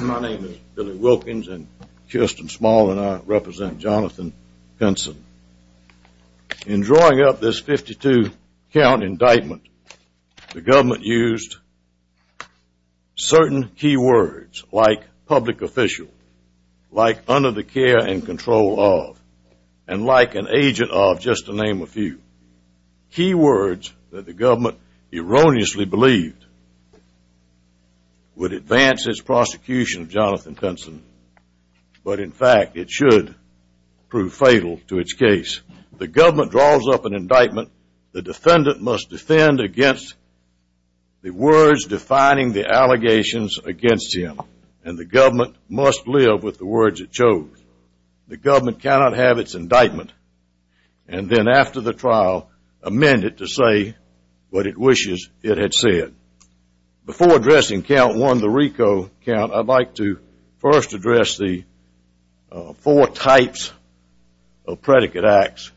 My name is Billy Wilkins and Kirsten Small and I represent Jonathan Pinson. In drawing up this 52 count indictment, the government used certain key words like public official, like under the care and control of, and like an agent of, just to name a few. Key words that the government erroneously used in the indictment. would advance its prosecution of Jonathan Pinson. But in fact, it should prove fatal to its case. The government draws up an indictment. The defendant must defend against the words defining the allegations against him. And the government must live with the words it chose. The government cannot have its indictment. And then after the trial, amend it to say what it wishes it had said. Before addressing count one, the RICO count, I'd like to first address the four types of predicate acts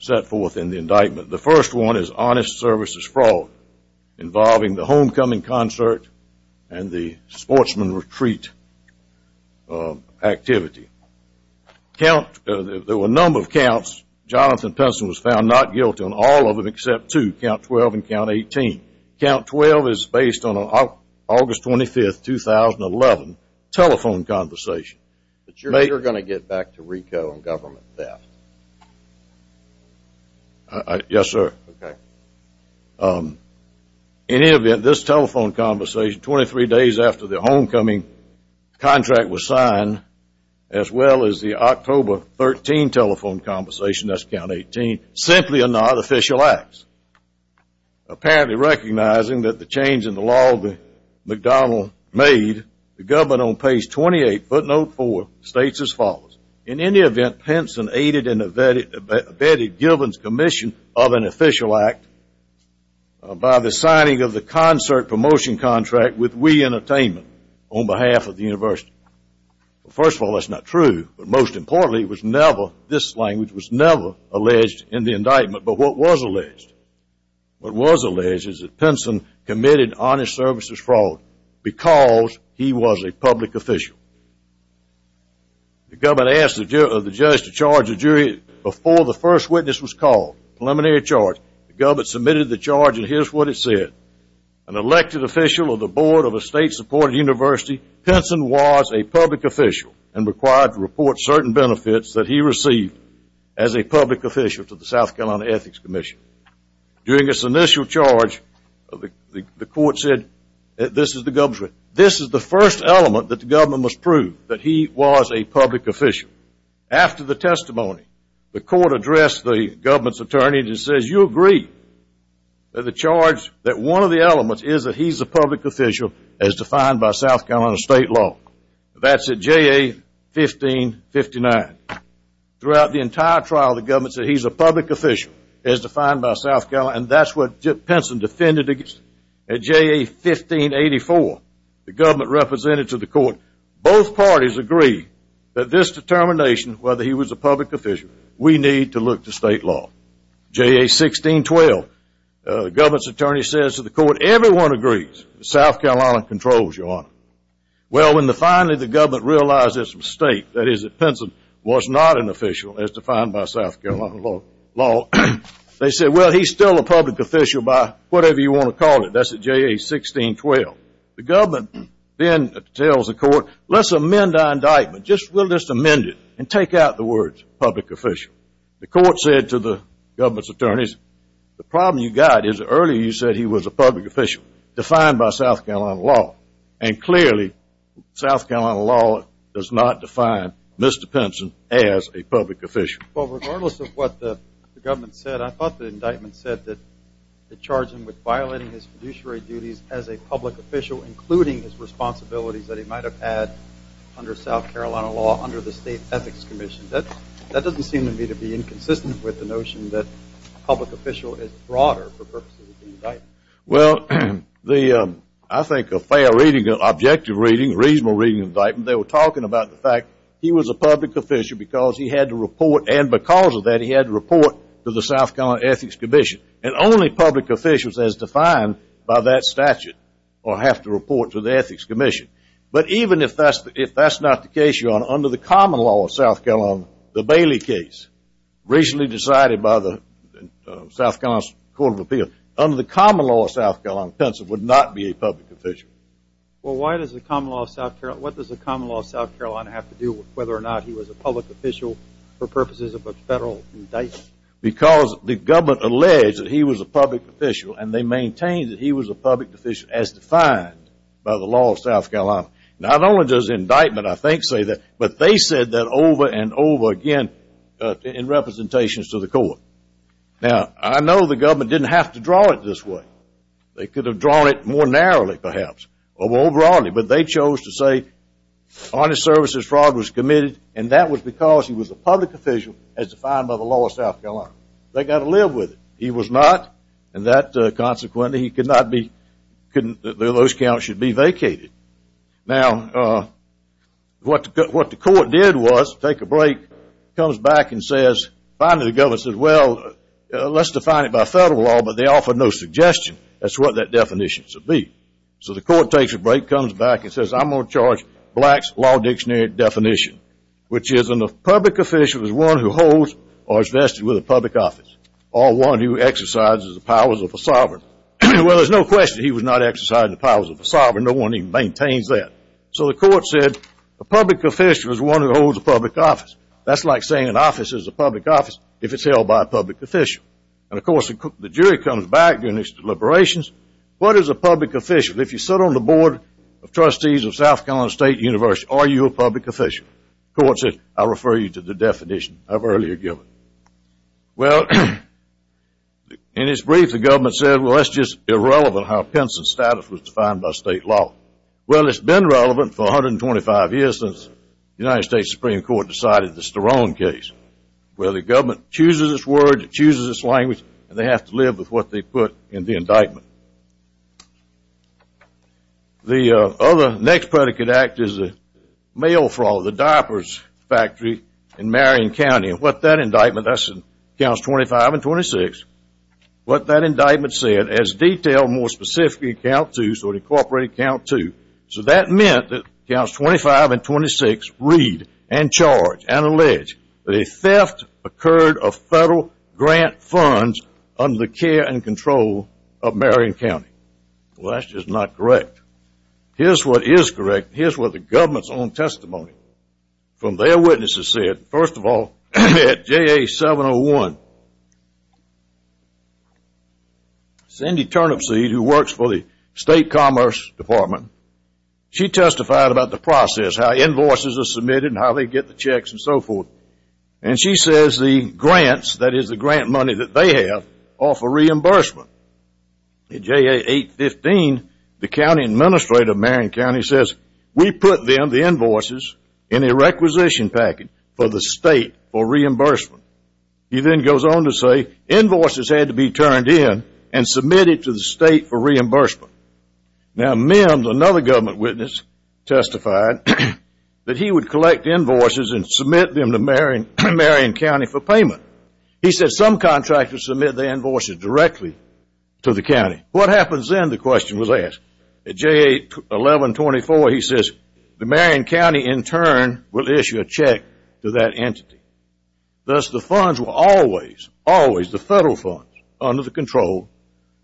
set forth in the indictment. The first one is honest services fraud involving the homecoming concert and the sportsman retreat activity. There were a number of counts. Jonathan Pinson was found not guilty on all of them except two, count 12 and count 18. Count 12 is based on an August 25, 2011 telephone conversation. But you're going to get back to RICO and government theft. Yes, sir. Okay. In any event, this telephone conversation, 23 days after the homecoming contract was signed, as well as the October 13 telephone conversation, that's count 18, simply are not official acts. Apparently recognizing that the change in the law that McDonnell made, the government on page 28, footnote four, states as follows. In any event, Pinson aided and abetted Gilman's commission of an official act by the signing of the concert promotion contract with Wee Entertainment on behalf of the university. First of all, that's not true. But most importantly, it was never, this language was never alleged in the indictment. But what was alleged, what was alleged is that Pinson committed honest services fraud because he was a public official. The government asked the judge to charge the jury before the first witness was called, preliminary charge. The government submitted the charge and here's what it said. An elected official of the board of a state-supported university, Pinson was a public official and required to report certain benefits that he received as a public official to the South Carolina Ethics Commission. During his initial charge, the court said, this is the first element that the government must prove, that he was a public official. After the testimony, the court addressed the government's attorney and says, you agree that the charge, that one of the elements is that he's a public official as defined by South Carolina state law. That's at JA 1559. Throughout the entire trial, the government said he's a public official as defined by South Carolina and that's what Pinson defended at JA 1584. The government represented to the court, both parties agree that this determination, whether he was a public official, we need to look to state law. JA 1612, the government's attorney says to the court, everyone agrees that South Carolina controls, Your Honor. Well, when finally the government realized this mistake, that is that Pinson was not an official as defined by South Carolina law, they said, well, he's still a public official by whatever you want to call it. That's at JA 1612. The government then tells the court, let's amend our indictment. We'll just amend it and take out the words public official. The court said to the government's attorneys, the problem you got is earlier you said he was a public official defined by South Carolina law. And clearly, South Carolina law does not define Mr. Pinson as a public official. Well, regardless of what the government said, I thought the indictment said that it charged him with violating his fiduciary duties as a public official, including his responsibilities that he might have had under South Carolina law under the state ethics commission. That doesn't seem to me to be inconsistent with the notion that public official is broader for purposes of the indictment. Well, I think a fair reading, an objective reading, a reasonable reading of the indictment, they were talking about the fact he was a public official because he had to report, and because of that he had to report to the South Carolina ethics commission. And only public officials as defined by that statute will have to report to the ethics commission. But even if that's not the case, under the common law of South Carolina, the Bailey case, recently decided by the South Carolina Court of Appeals, under the common law of South Carolina, Pinson would not be a public official. Well, what does the common law of South Carolina have to do with whether or not he was a public official for purposes of a federal indictment? Because the government alleged that he was a public official, and they maintained that he was a public official as defined by the law of South Carolina. Not only does the indictment, I think, say that, but they said that over and over again in representations to the court. Now, I know the government didn't have to draw it this way. They could have drawn it more narrowly, perhaps, or more broadly, but they chose to say honest services fraud was committed, and that was because he was a public official as defined by the law of South Carolina. They got to live with it. He was not, and that consequently he could not be, those counts should be vacated. Now, what the court did was take a break, comes back and says, finally the government says, well, let's define it by federal law, but they offer no suggestion as to what that definition should be. So the court takes a break, comes back and says, I'm going to charge blacks law dictionary definition, which is a public official is one who holds or is vested with a public office or one who exercises the powers of a sovereign. Well, there's no question he was not exercising the powers of a sovereign. No one even maintains that. So the court said a public official is one who holds a public office. That's like saying an office is a public office if it's held by a public official. And, of course, the jury comes back in its deliberations. What is a public official? If you sit on the board of trustees of South Carolina State University, are you a public official? The court said, I refer you to the definition I've earlier given. Well, in its brief, the government said, well, that's just irrelevant how Pinson's status was defined by state law. Well, it's been relevant for 125 years since the United States Supreme Court decided the Sterling case. Well, the government chooses its word, it chooses its language, and they have to live with what they put in the indictment. The other next predicate act is the mail fraud, the diapers factory in Marion County. And what that indictment does is it counts 25 and 26. What that indictment said is detailed more specifically in count two, so it incorporated count two. So that meant that counts 25 and 26 read and charge and allege that a theft occurred of federal grant funds under the care and control of Marion County. Well, that's just not correct. Here's what is correct. Here's what the government's own testimony from their witnesses said. First of all, at JA701, Cindy Turnipseed, who works for the State Commerce Department, she testified about the process, how invoices are submitted and how they get the checks and so forth. And she says the grants, that is the grant money that they have, offer reimbursement. At JA815, the county administrator of Marion County says, we put them, the invoices, in a requisition package for the state for reimbursement. He then goes on to say invoices had to be turned in and submitted to the state for reimbursement. Now, Mims, another government witness, testified that he would collect invoices and submit them to Marion County for payment. He said some contractors submit their invoices directly to the county. What happens then, the question was asked. At JA1124, he says the Marion County, in turn, will issue a check to that entity. Thus, the funds were always, always the federal funds under the control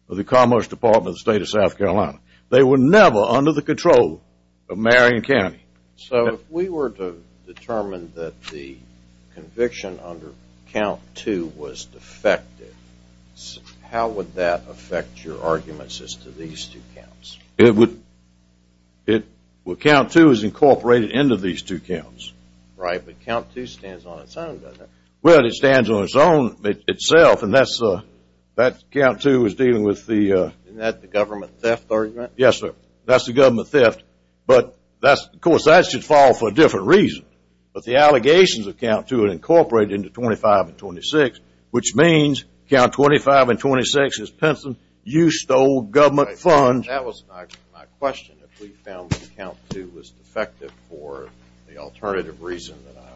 of the Commerce Department of the State of South Carolina. They were never under the control of Marion County. So if we were to determine that the conviction under count two was defective, how would that affect your arguments as to these two counts? It would, it, well, count two is incorporated into these two counts. Right, but count two stands on its own, doesn't it? Well, it stands on its own itself, and that's, that count two is dealing with the Isn't that the government theft argument? Yes, sir. That's the government theft, but that's, of course, that should fall for a different reason. But the allegations of count two are incorporated into 25 and 26, which means count 25 and 26 is Pinson, you stole government funds. That was my question, if we found that count two was defective for the alternative reason that I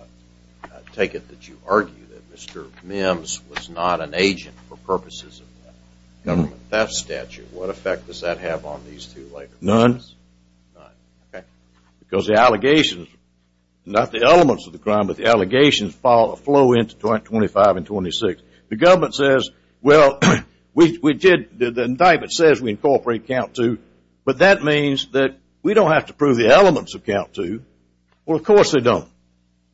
take it that you argue, that Mr. Mims was not an agent for purposes of the government theft statute. What effect does that have on these two later? None. None, okay. Because the allegations, not the elements of the crime, but the allegations flow into 25 and 26. The government says, well, we did, the indictment says we incorporate count two, but that means that we don't have to prove the elements of count two. Well, of course, they don't.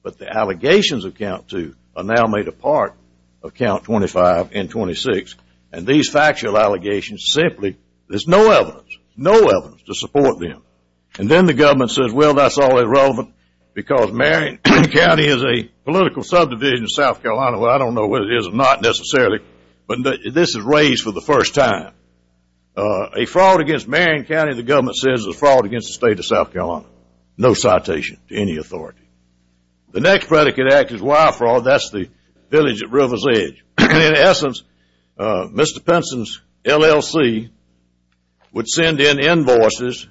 But the allegations of count two are now made a part of count 25 and 26, and these factual allegations simply, there's no evidence, no evidence to support them. And then the government says, well, that's all irrelevant, because Marion County is a political subdivision of South Carolina. Well, I don't know whether it is or not necessarily, but this is raised for the first time. A fraud against Marion County, the government says, is a fraud against the state of South Carolina. No citation to any authority. The next predicate act is wire fraud. That's the village at River's Edge. In essence, Mr. Pinson's LLC would send in invoices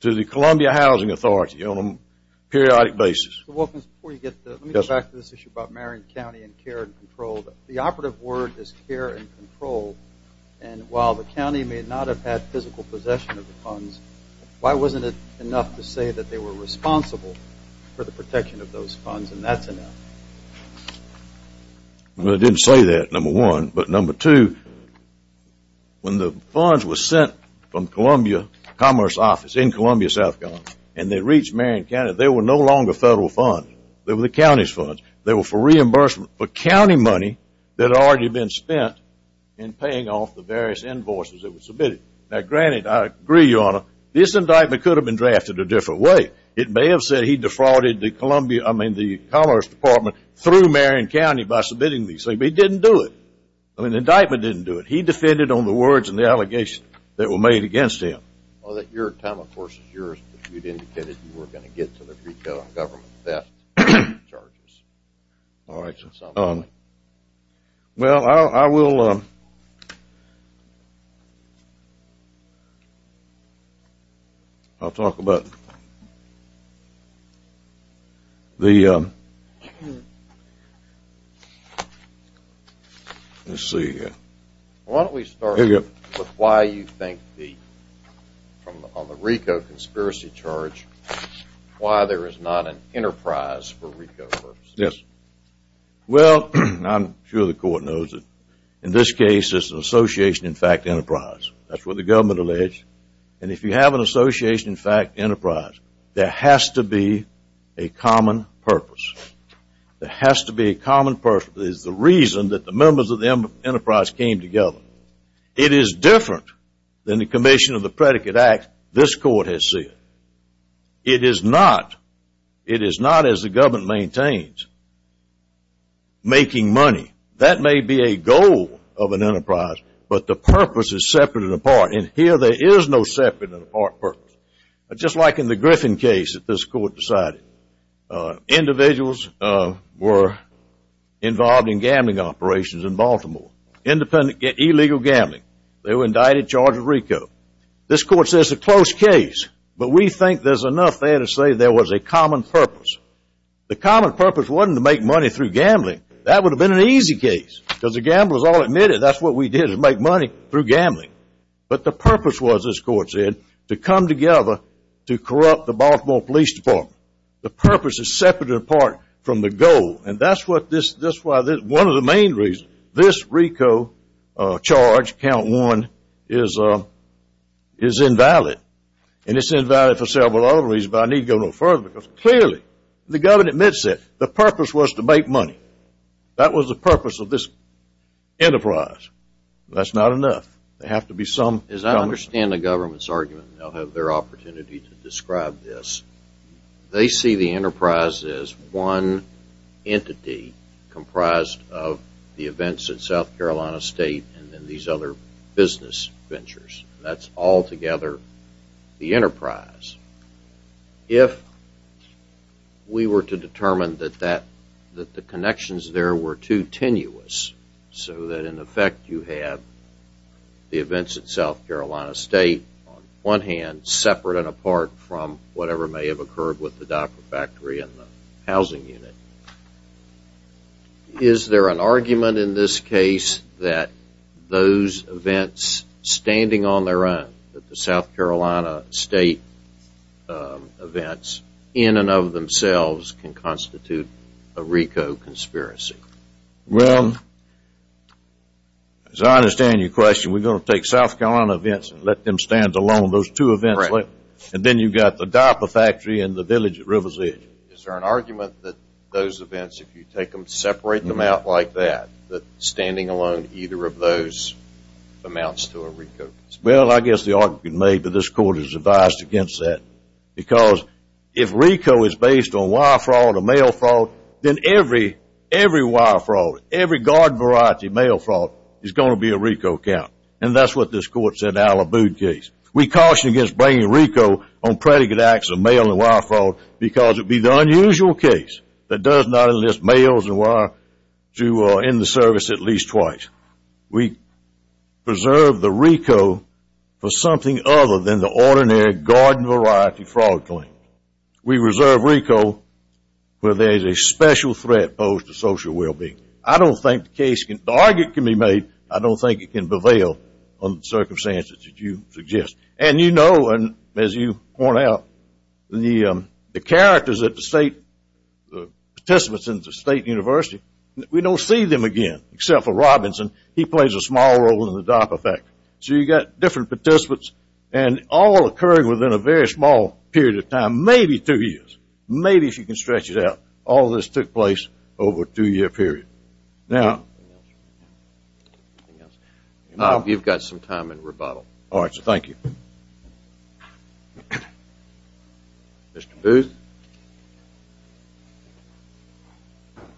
to the Columbia Housing Authority on a periodic basis. Mr. Wilkins, before you get to it, let me go back to this issue about Marion County and care and control. The operative word is care and control, and while the county may not have had physical possession of the funds, why wasn't it enough to say that they were responsible for the protection of those funds, and that's enough? Well, I didn't say that, number one, but number two, when the funds were sent from Columbia Commerce Office in Columbia, South Carolina, and they reached Marion County, they were no longer federal funds. They were the county's funds. They were for reimbursement for county money that had already been spent in paying off the various invoices that were submitted. Now, granted, I agree, Your Honor, this indictment could have been drafted a different way. It may have said he defrauded the Columbia, I mean, the Commerce Department, through Marion County by submitting these things. But he didn't do it. I mean, the indictment didn't do it. He defended on the words and the allegations that were made against him. Well, your time, of course, is yours. But you did say that you were going to get to the retail and government theft charges. All right. Well, I will – I'll talk about the – let's see here. Why don't we start with why you think the – on the RICO conspiracy charge, why there is not an enterprise for RICO purposes? Yes. Well, I'm sure the court knows that in this case, it's an association, in fact, enterprise. That's what the government alleged. And if you have an association, in fact, enterprise, there has to be a common purpose. There has to be a common purpose. It is the reason that the members of the enterprise came together. It is different than the commission of the Predicate Act this court has said. It is not – it is not, as the government maintains, making money. That may be a goal of an enterprise, but the purpose is separate and apart. And here there is no separate and apart purpose. Just like in the Griffin case that this court decided. Individuals were involved in gambling operations in Baltimore, independent illegal gambling. They were indicted, charged with RICO. This court says it's a close case, but we think there's enough there to say there was a common purpose. The common purpose wasn't to make money through gambling. That would have been an easy case because the gamblers all admitted that's what we did, make money through gambling. But the purpose was, this court said, to come together to corrupt the Baltimore Police Department. The purpose is separate and apart from the goal. And that's what this – one of the main reasons this RICO charge, count one, is invalid. And it's invalid for several other reasons, but I needn't go no further because clearly the government admits it. The purpose was to make money. That was the purpose of this enterprise. That's not enough. There have to be some – As I understand the government's argument, and I'll have their opportunity to describe this, they see the enterprise as one entity comprised of the events at South Carolina State and then these other business ventures. That's altogether the enterprise. If we were to determine that the connections there were too tenuous so that in effect you have the events at South Carolina State on one hand, separate and apart from whatever may have occurred with the diaper factory and the housing unit, is there an argument in this case that those events standing on their own, that the South Carolina State events in and of themselves can constitute a RICO conspiracy? Well, as I understand your question, we're going to take South Carolina events and let them stand alone. Those two events. And then you've got the diaper factory and the village at River's Edge. Is there an argument that those events, if you take them, separate them out like that, that standing alone either of those amounts to a RICO? Well, I guess the argument may be this court is advised against that because if RICO is based on wire fraud or mail fraud, then every wire fraud, every garden variety mail fraud is going to be a RICO account. And that's what this court said out of a boot case. We caution against bringing RICO on predicate acts of mail and wire fraud because it would be the unusual case that does not enlist mails and wire in the service at least twice. We preserve the RICO for something other than the ordinary garden variety fraud claim. We reserve RICO where there is a special threat posed to social well-being. I don't think the argument can be made. I don't think it can prevail on the circumstances that you suggest. And you know, and as you point out, the characters at the state, the participants at the state university, we don't see them again except for Robinson. He plays a small role in the diaper factory. So you've got different participants and all occurring within a very small period of time, maybe two years. Maybe if you can stretch it out. All this took place over a two-year period. Now, you've got some time in rebuttal. All right. Thank you. Mr. Booth.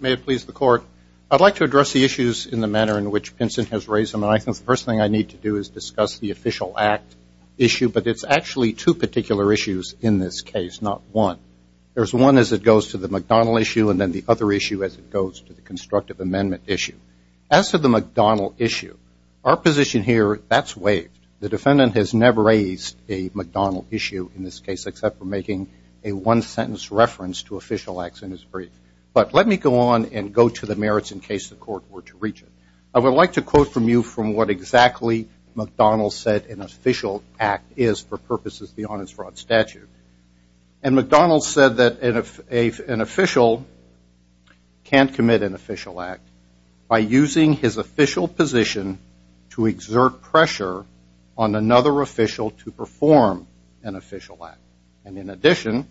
May it please the Court. I'd like to address the issues in the manner in which Pinson has raised them. And I think the first thing I need to do is discuss the official act issue. But it's actually two particular issues in this case, not one. There's one as it goes to the McDonnell issue and then the other issue as it goes to the constructive amendment issue. As to the McDonnell issue, our position here, that's waived. The defendant has never raised a McDonnell issue in this case except for making a one-sentence reference to official acts in his brief. But let me go on and go to the merits in case the Court were to reach it. I would like to quote from you from what exactly McDonnell said an official act is for purposes of the honest fraud statute. And McDonnell said that an official can't commit an official act by using his official position to exert pressure on another official to perform an official act. And in addition,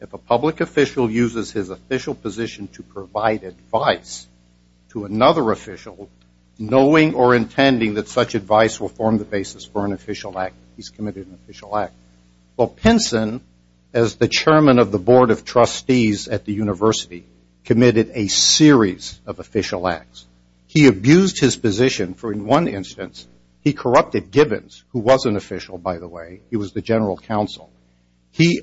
if a public official uses his official position to provide advice to another official, knowing or intending that such advice will form the basis for an official act, he's committed an official act. Well, Pinson, as the chairman of the board of trustees at the university, committed a series of official acts. He abused his position for, in one instance, he corrupted Givens, who was an official, by the way. He was the general counsel. He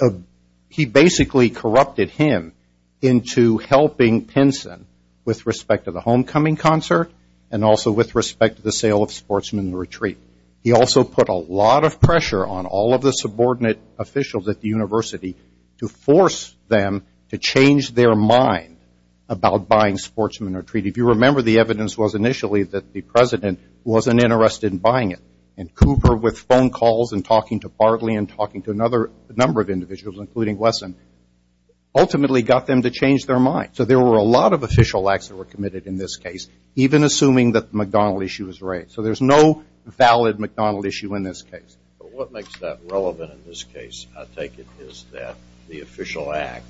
basically corrupted him into helping Pinson with respect to the homecoming concert and also with respect to the sale of Sportsman Retreat. He also put a lot of pressure on all of the subordinate officials at the university to force them to change their mind about buying Sportsman Retreat. If you remember, the evidence was initially that the president wasn't interested in buying it. And Cooper, with phone calls and talking to Bartley and talking to another number of individuals, including Wesson, ultimately got them to change their mind. So there were a lot of official acts that were committed in this case, even assuming that the McDonnell issue was raised. So there's no valid McDonnell issue in this case. But what makes that relevant in this case, I take it, is that the official act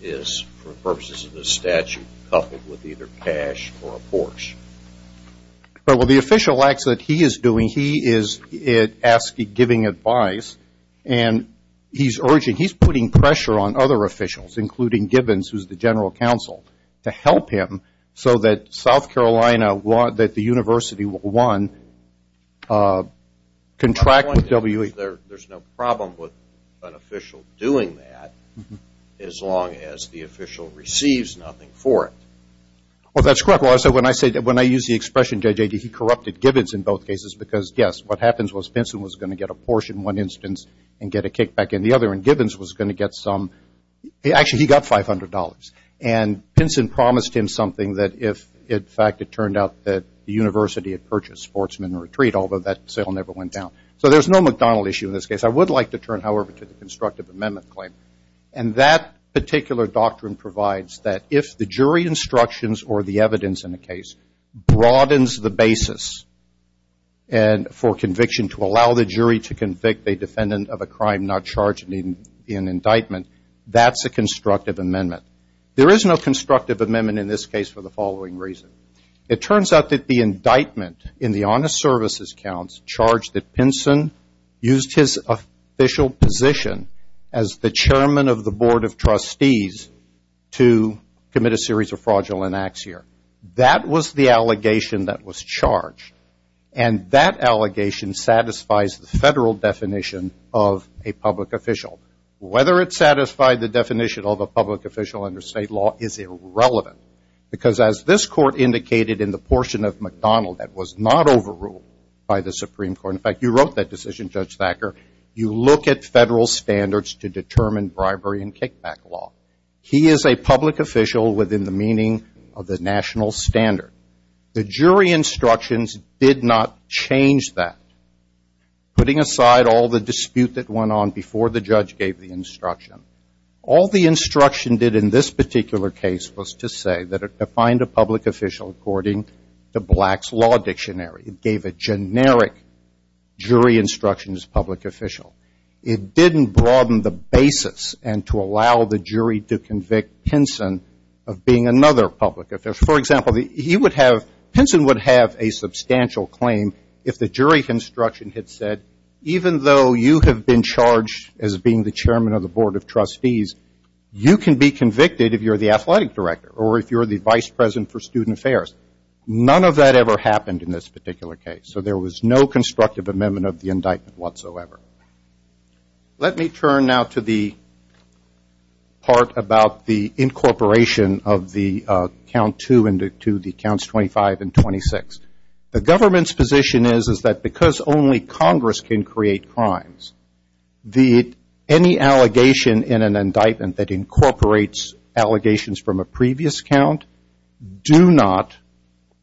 is, for purposes of this statute, coupled with either cash or a porsche. Well, the official acts that he is doing, he is asking, giving advice, and he's urging, he's putting pressure on other officials, including Givens, who's the general counsel, to help him so that South Carolina, that the university will, one, contract W. There's no problem with an official doing that as long as the official receives nothing for it. Well, that's correct. When I use the expression, J.J., he corrupted Givens in both cases because, yes, what happens was Benson was going to get a porsche in one instance and get a kickback in the other, and Givens was going to get some. Actually, he got $500. And Benson promised him something that if, in fact, it turned out that the university had purchased Sportsman Retreat, although that sale never went down. So there's no McDonnell issue in this case. I would like to turn, however, to the constructive amendment claim. And that particular doctrine provides that if the jury instructions or the evidence in the case broadens the basis for conviction, to allow the jury to convict a defendant of a crime not charged in indictment, that's a constructive amendment. There is no constructive amendment in this case for the following reason. It turns out that the indictment in the honest services counts charged that Benson used his official position as the chairman of the board of trustees to commit a series of fraudulent acts here. That was the allegation that was charged. And that allegation satisfies the federal definition of a public official. Whether it satisfied the definition of a public official under state law is irrelevant. Because as this court indicated in the portion of McDonnell that was not overruled by the Supreme Court, in fact, you wrote that decision, Judge Thacker, you look at federal standards to determine bribery and kickback law. He is a public official within the meaning of the national standard. The jury instructions did not change that. Putting aside all the dispute that went on before the judge gave the instruction, all the instruction did in this particular case was to say that it defined a public official according to Black's Law Dictionary. It gave a generic jury instruction as public official. It didn't broaden the basis and to allow the jury to convict Pinson of being another public official. For example, he would have, Pinson would have a substantial claim if the jury instruction had said, even though you have been charged as being the chairman of the board of trustees, you can be convicted if you're the athletic director or if you're the vice president for student affairs. None of that ever happened in this particular case. So there was no constructive amendment of the indictment whatsoever. Let me turn now to the part about the incorporation of the count two and to the counts 25 and 26. The government's position is, is that because only Congress can create crimes, any allegation in an indictment that incorporates allegations from a previous count do not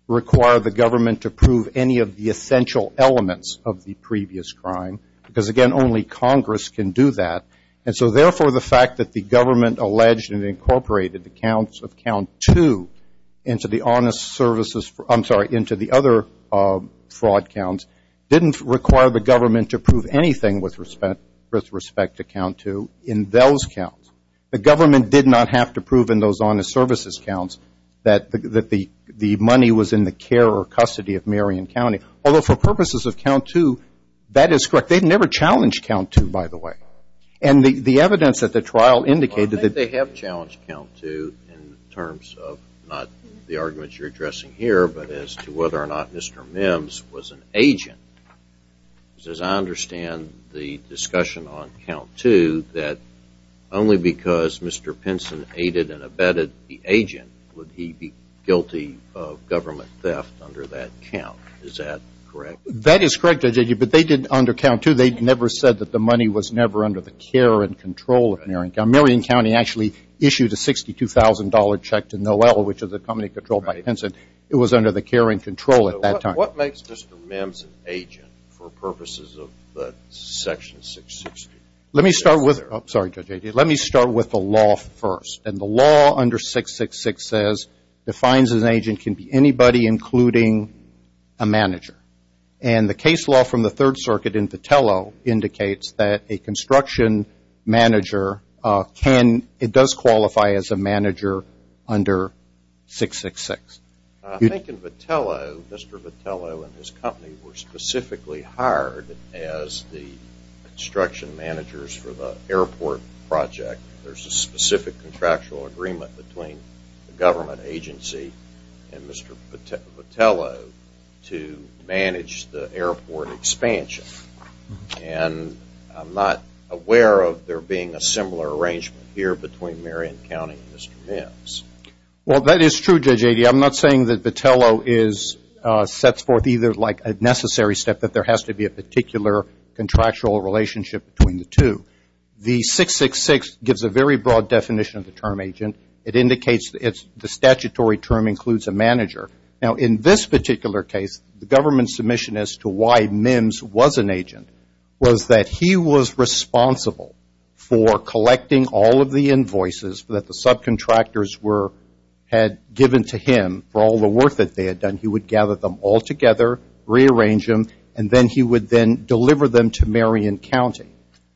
require the government to prove any of the essential elements of the previous crime because, again, only Congress can do that. And so, therefore, the fact that the government alleged and incorporated the counts of count two into the honest services, I'm sorry, into the other fraud counts, didn't require the government to prove anything with respect to count two in those counts. The government did not have to prove in those honest services counts that the money was in the care or custody of Marion County. Although, for purposes of count two, that is correct. They've never challenged count two, by the way. And the evidence at the trial indicated that they have challenged count two in terms of not the arguments you're addressing here, but as to whether or not Mr. Mims was an agent. As I understand the discussion on count two, that only because Mr. Pinson aided and abetted the agent, would he be guilty of government theft under that count. Is that correct? That is correct, Judge, but they did under count two. They never said that the money was never under the care and control of Marion County. Marion County actually issued a $62,000 check to Noel, which is a company controlled by Pinson. It was under the care and control at that time. What makes Mr. Mims an agent for purposes of Section 660? Let me start with the law first. And the law under 666 says, defines an agent can be anybody including a manager. And the case law from the Third Circuit in Vitello indicates that a construction manager can, it does qualify as a manager under 666. I think in Vitello, Mr. Vitello and his company were specifically hired as the construction managers for the airport project. There's a specific contractual agreement between the government agency and Mr. Vitello to manage the airport expansion. And I'm not aware of there being a similar arrangement here between Marion County and Mr. Mims. Well, that is true, Judge Adey. I'm not saying that Vitello is, sets forth either like a necessary step, that there has to be a particular contractual relationship between the two. The 666 gives a very broad definition of the term agent. It indicates the statutory term includes a manager. Now, in this particular case, the government submission as to why Mims was an agent was that he was responsible for collecting all of the invoices that the subcontractors were, had given to him for all the work that they had done. He would gather them all together, rearrange them, and then he would then deliver them to Marion County.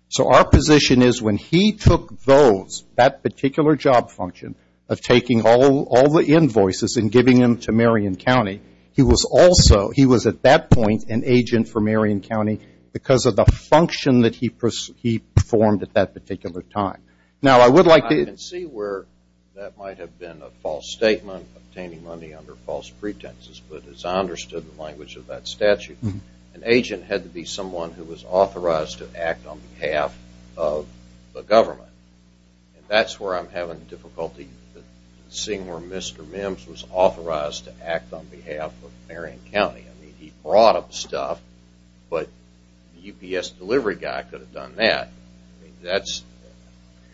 So our position is when he took those, that particular job function of taking all the invoices and giving them to Marion County, he was also, he was at that point an agent for Marion County because of the function that he performed at that particular time. Now, I would like to – I can see where that might have been a false statement, obtaining money under false pretenses, but as I understood the language of that statute, an agent had to be someone who was authorized to act on behalf of the government. And that's where I'm having difficulty seeing where Mr. Mims was authorized to act on behalf of Marion County. I mean, he brought up stuff, but the UPS delivery guy could have done that. That's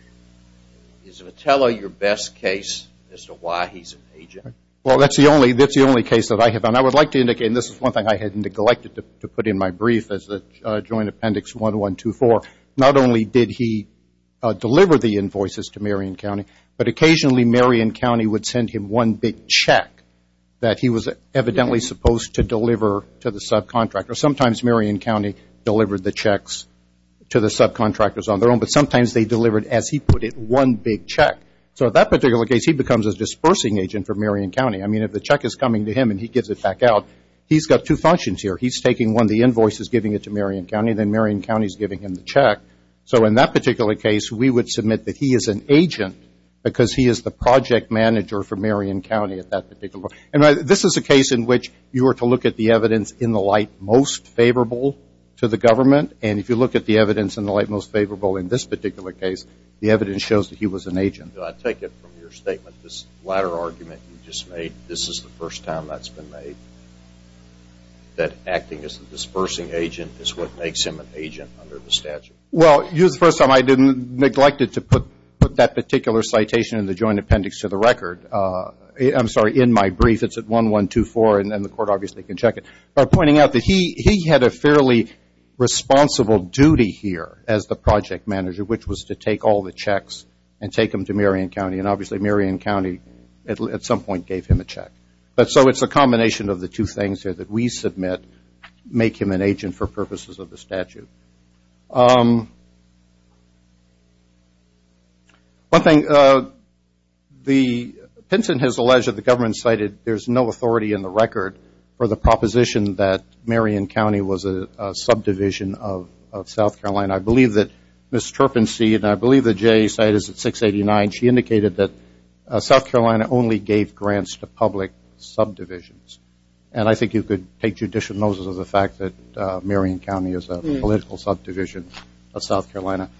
– is Vitello your best case as to why he's an agent? Well, that's the only case that I have, and I would like to indicate, and this is one thing I had neglected to put in my brief as the Joint Appendix 1124, not only did he deliver the invoices to Marion County, but occasionally Marion County would send him one big check that he was evidently supposed to deliver to the subcontractor. Sometimes Marion County delivered the checks to the subcontractors on their own, but sometimes they delivered, as he put it, one big check. So in that particular case, he becomes a dispersing agent for Marion County. I mean, if the check is coming to him and he gives it back out, he's got two functions here. He's taking one of the invoices, giving it to Marion County, and then Marion County is giving him the check. So in that particular case, we would submit that he is an agent because he is the project manager for Marion County at that particular point. And this is a case in which you were to look at the evidence in the light most favorable to the government, and if you look at the evidence in the light most favorable in this particular case, the evidence shows that he was an agent. I take it from your statement, this latter argument you just made, this is the first time that's been made, that acting as a dispersing agent is what makes him an agent under the statute. Well, the first time I neglected to put that particular citation in the Joint Appendix to the record, I'm sorry, in my brief, it's at 1124, and the court obviously can check it, by pointing out that he had a fairly responsible duty here as the project manager, which was to take all the checks and take them to Marion County. And obviously, Marion County at some point gave him a check. So it's a combination of the two things here that we submit make him an agent for purposes of the statute. One thing, Pinson has alleged that the government cited there's no authority in the record for the proposition that Marion County was a subdivision of South Carolina. I believe that Ms. Turpensee, and I believe that Jay cited it at 689, she indicated that South Carolina only gave grants to public subdivisions. And I think you could take judicial notice of the fact that Marion County is a political entity. It's a political subdivision of South Carolina.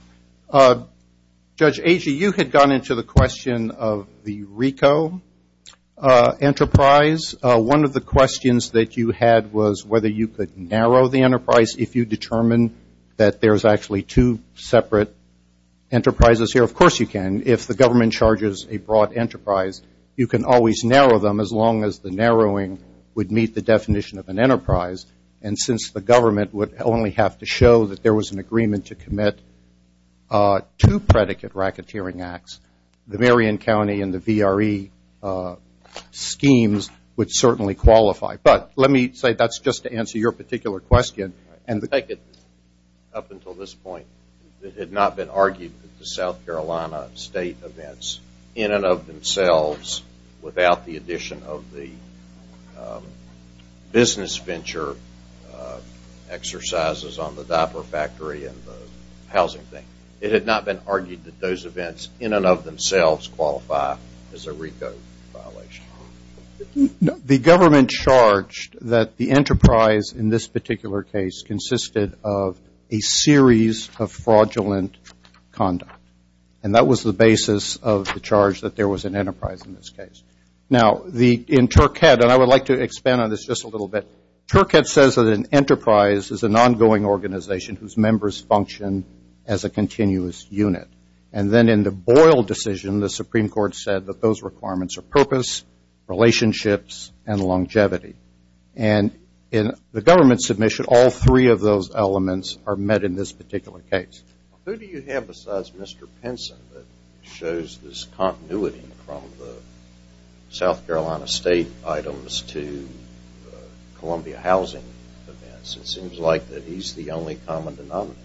Judge Agee, you had gone into the question of the RICO enterprise. One of the questions that you had was whether you could narrow the enterprise if you determined that there's actually two separate enterprises here. Of course you can. If the government charges a broad enterprise, you can always narrow them as long as the narrowing would meet the definition of an enterprise. And since the government would only have to show that there was an agreement to commit two predicate racketeering acts, the Marion County and the VRE schemes would certainly qualify. But let me say that's just to answer your particular question. Up until this point, it had not been argued that the South Carolina state events in and of themselves without the addition of the business venture exercises on the diaper factory and the housing thing. It had not been argued that those events in and of themselves qualify as a RICO violation. The government charged that the enterprise in this particular case consisted of a series of fraudulent conduct. And that was the basis of the charge that there was an enterprise in this case. Now, in Turkhead, and I would like to expand on this just a little bit, Turkhead says that an enterprise is an ongoing organization whose members function as a continuous unit. And then in the Boyle decision, the Supreme Court said that those requirements are purpose, relationships, and longevity. And in the government submission, all three of those elements are met in this particular case. Who do you have besides Mr. Pinson that shows this continuity from the South Carolina state items to Columbia housing events? It seems like that he's the only common denominator.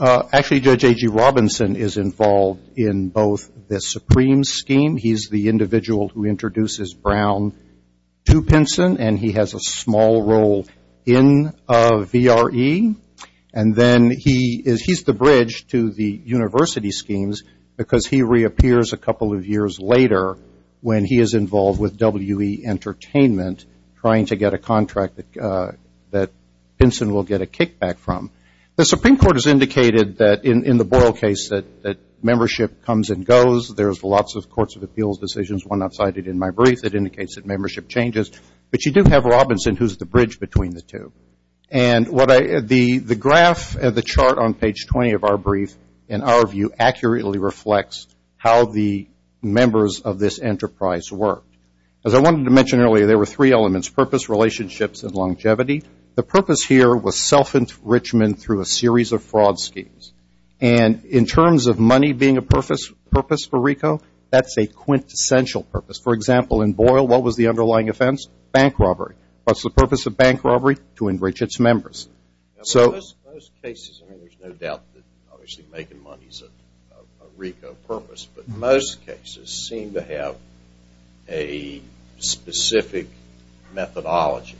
Actually, Judge A.G. Robinson is involved in both the Supreme scheme. He's the individual who introduces Brown to Pinson, and he has a small role in VRE. And then he's the bridge to the university schemes because he reappears a couple of years later when he is involved with WE Entertainment trying to get a contract that Pinson will get a kickback from. The Supreme Court has indicated that in the Boyle case that membership comes and goes. There's lots of courts of appeals decisions, one outside it in my brief, that indicates that membership changes. But you do have Robinson, who's the bridge between the two. And the graph of the chart on page 20 of our brief, in our view, accurately reflects how the members of this enterprise work. As I wanted to mention earlier, there were three elements, purpose, relationships, and longevity. The purpose here was self-enrichment through a series of fraud schemes. And in terms of money being a purpose for RICO, that's a quintessential purpose. For example, in Boyle, what was the underlying offense? Bank robbery. What's the purpose of bank robbery? To enrich its members. In most cases, and there's no doubt that obviously making money is a RICO purpose, but most cases seem to have a specific methodology.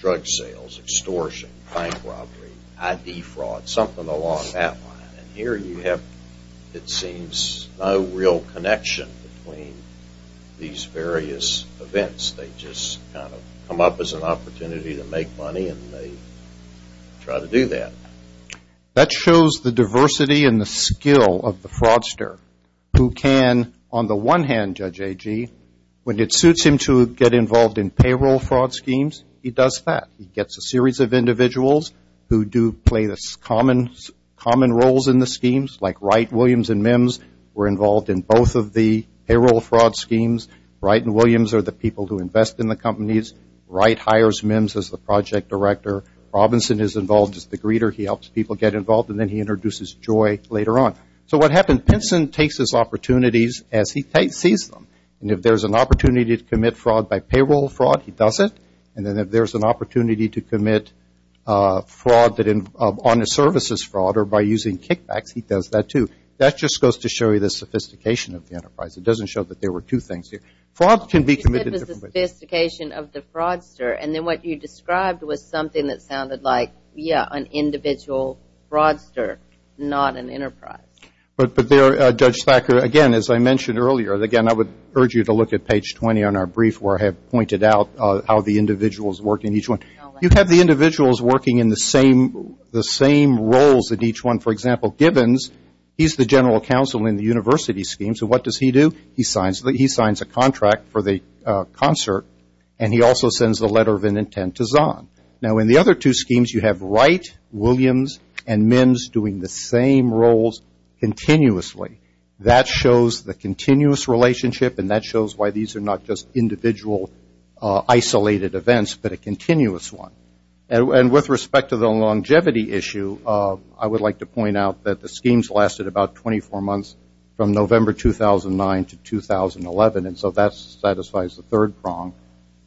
Drug sales, extortion, bank robbery, ID fraud, something along that line. And here you have, it seems, no real connection between these various events. They just kind of come up as an opportunity to make money, and they try to do that. That shows the diversity and the skill of the fraudster who can, on the one hand, Judge Agee, when it suits him to get involved in payroll fraud schemes, he does that. He gets a series of individuals who do play the common roles in the schemes, like Wright, Williams, and Mims, were involved in both of the payroll fraud schemes. Wright and Williams are the people who invest in the companies. Wright hires Mims as the project director. Robinson is involved as the greeter. He helps people get involved, and then he introduces Joy later on. So what happened? Pinson takes his opportunities as he sees them. And if there's an opportunity to commit fraud by payroll fraud, he does it. And then if there's an opportunity to commit fraud on the services fraud or by using kickbacks, he does that too. That just goes to show you the sophistication of the enterprise. It doesn't show that there were two things here. Fraud can be committed in different ways. You said there was a sophistication of the fraudster, and then what you described was something that sounded like, yeah, an individual fraudster, not an enterprise. But there, Judge Thacker, again, as I mentioned earlier, again, I would urge you to look at page 20 on our brief where I have pointed out how the individuals work in each one. You have the individuals working in the same roles in each one. For example, Gibbons, he's the general counsel in the university scheme, so what does he do? He signs a contract for the concert, and he also sends a letter of intent to Zahn. Now, in the other two schemes, you have Wright, Williams, and Mims doing the same roles continuously. That shows the continuous relationship, and that shows why these are not just individual isolated events but a continuous one. And with respect to the longevity issue, I would like to point out that the schemes lasted about 24 months from November 2009 to 2011, and so that satisfies the third prong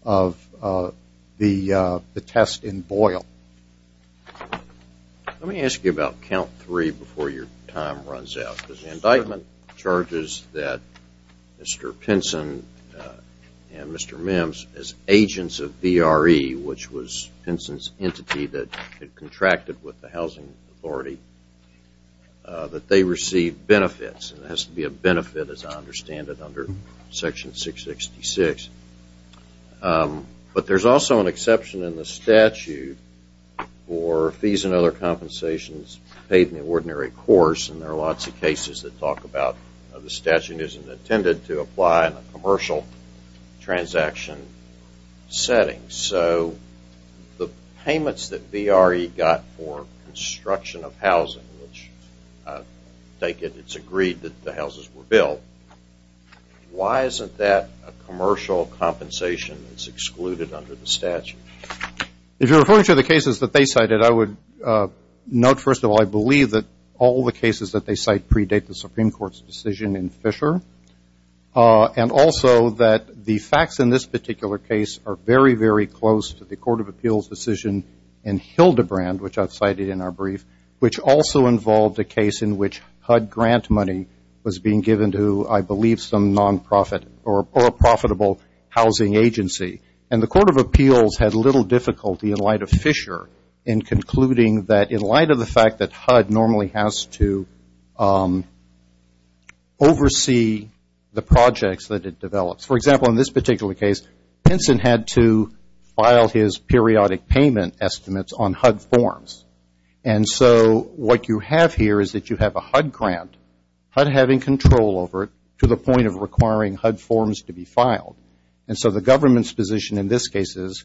of the test in Boyle. Let me ask you about count three before your time runs out, because the indictment charges that Mr. Pinson and Mr. Mims, as agents of VRE, which was Pinson's entity that had contracted with the Housing Authority, that they received benefits. It has to be a benefit, as I understand it, under Section 666. But there's also an exception in the statute for fees and other compensations paid in the ordinary course, and there are lots of cases that talk about the statute isn't intended to apply in a commercial transaction setting. So the payments that VRE got for construction of housing, which I take it it's agreed that the houses were built, why isn't that a commercial compensation that's excluded under the statute? If you're referring to the cases that they cited, I would note, first of all, I believe that all the cases that they cite predate the Supreme Court's decision in Fisher, and also that the facts in this particular case are very, very close to the Court of Appeals' decision in Hildebrand, which I've cited in our brief, which also involved a case in which HUD grant money was being given to, I believe, some nonprofit or a profitable housing agency. And the Court of Appeals had little difficulty in light of Fisher in concluding that, in light of the fact that HUD normally has to oversee the projects that it develops. For example, in this particular case, Pinson had to file his periodic payment estimates on HUD forms. And so what you have here is that you have a HUD grant, HUD having control over it to the point of requiring HUD forms to be filed. And so the government's position in this case is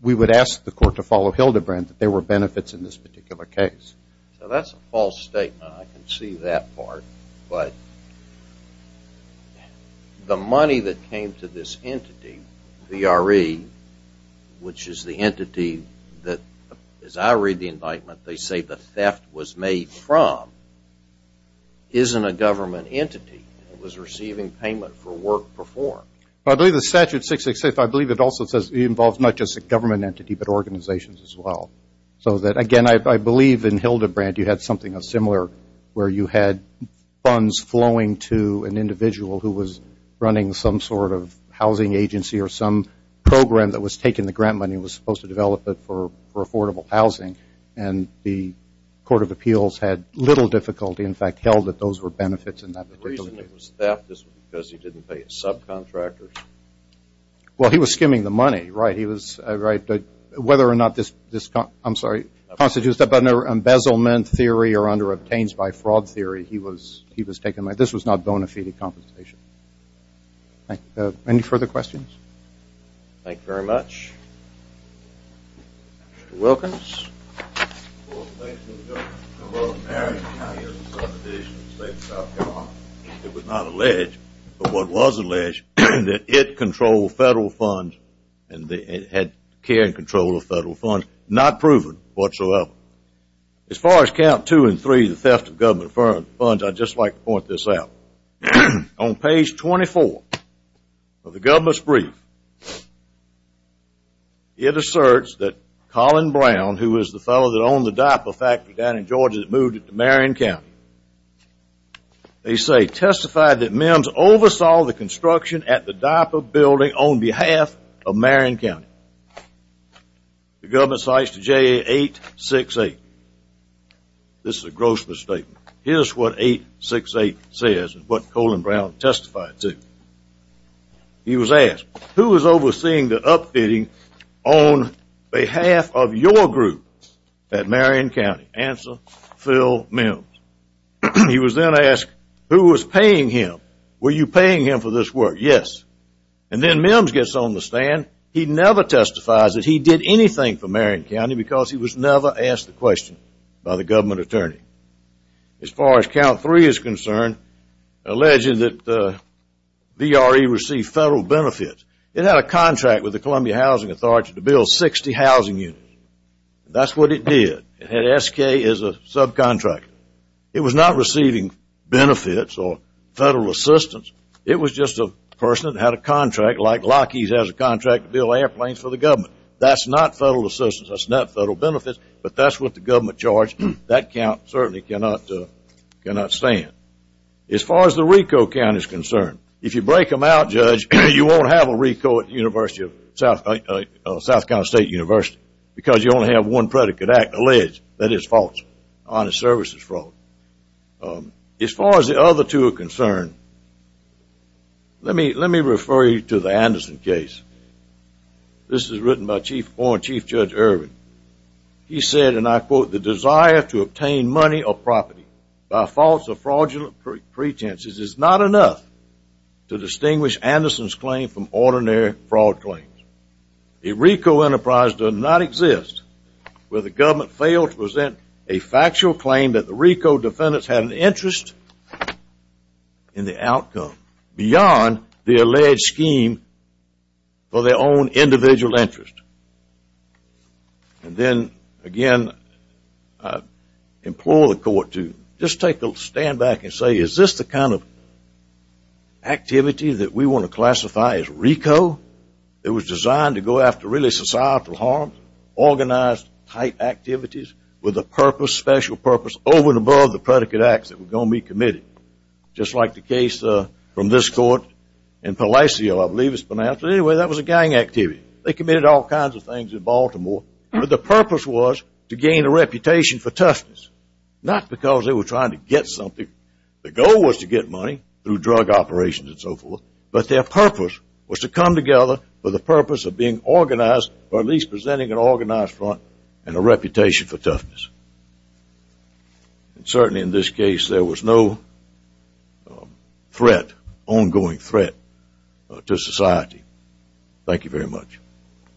we would ask the court to follow Hildebrand, that there were benefits in this particular case. So that's a false statement. I can see that part. But the money that came to this entity, VRE, which is the entity that, as I read the indictment, they say the theft was made from, isn't a government entity. It was receiving payment for work performed. I believe the statute 666, I believe it also says, involves not just a government entity but organizations as well. So that, again, I believe in Hildebrand you had something similar where you had funds flowing to an individual who was running some sort of housing agency or some program that was taking the grant money and was supposed to develop it for affordable housing. And the Court of Appeals had little difficulty, in fact, held that those were benefits in that particular case. The reason it was theft is because he didn't pay his subcontractors. Well, he was skimming the money, right. Whether or not this constitutes an embezzlement theory or under-obtains by fraud theory, he was taking money. This was not bona fide compensation. Any further questions? Thank you very much. Mr. Wilkins. Well, thank you, Mr. Chairman. I was married in my years of subdivision in the state of South Carolina. It was not alleged, but what was alleged, that it controlled federal funds and it had care and control of federal funds. Not proven whatsoever. As far as count two and three, the theft of government funds, I'd just like to point this out. On page 24 of the government's brief, it asserts that Colin Brown, who was the fellow that owned the diaper factory down in Georgia that moved it to Marion County, they say testified that MEMS oversaw the construction at the diaper building on behalf of Marion County. The government cites the JA868. This is a gross misstatement. Here's what 868 says and what Colin Brown testified to. He was asked, who was overseeing the upfitting on behalf of your group at Marion County? Answer, Phil MEMS. He was then asked, who was paying him? Were you paying him for this work? Yes. And then MEMS gets on the stand. He never testifies that he did anything for Marion County because he was never asked the question by the government attorney. As far as count three is concerned, alleged that VRE received federal benefits. It had a contract with the Columbia Housing Authority to build 60 housing units. That's what it did. It had SK as a subcontractor. It was not receiving benefits or federal assistance. It was just a person that had a contract like Lockheed has a contract to build airplanes for the government. That's not federal assistance. That's not federal benefits. But that's what the government charged. That count certainly cannot stand. As far as the RICO count is concerned, if you break them out, Judge, you won't have a RICO at South Carolina State University because you only have one predicate, alleged that it's false, honest services fraud. As far as the other two are concerned, let me refer you to the Anderson case. This is written by Chief Judge Irvin. He said, and I quote, the desire to obtain money or property by false or fraudulent pretenses is not enough to distinguish Anderson's claim from ordinary fraud claims. A RICO enterprise does not exist where the government failed to present a factual claim that the RICO defendants had an interest in the outcome beyond the alleged scheme for their own individual interest. And then, again, I implore the court to just take a stand back and say, is this the kind of activity that we want to classify as RICO? It was designed to go after really societal harm, organized type activities with a purpose, special purpose, over and above the predicate acts that were going to be committed. Just like the case from this court in Palacio, I believe it's pronounced. But anyway, that was a gang activity. They committed all kinds of things in Baltimore, but the purpose was to gain a reputation for toughness, not because they were trying to get something. The goal was to get money through drug operations and so forth, but their purpose was to come together for the purpose of being organized or at least presenting an organized front and a reputation for toughness. And certainly in this case, there was no threat, ongoing threat, to society. Thank you very much.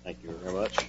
Thank you very much.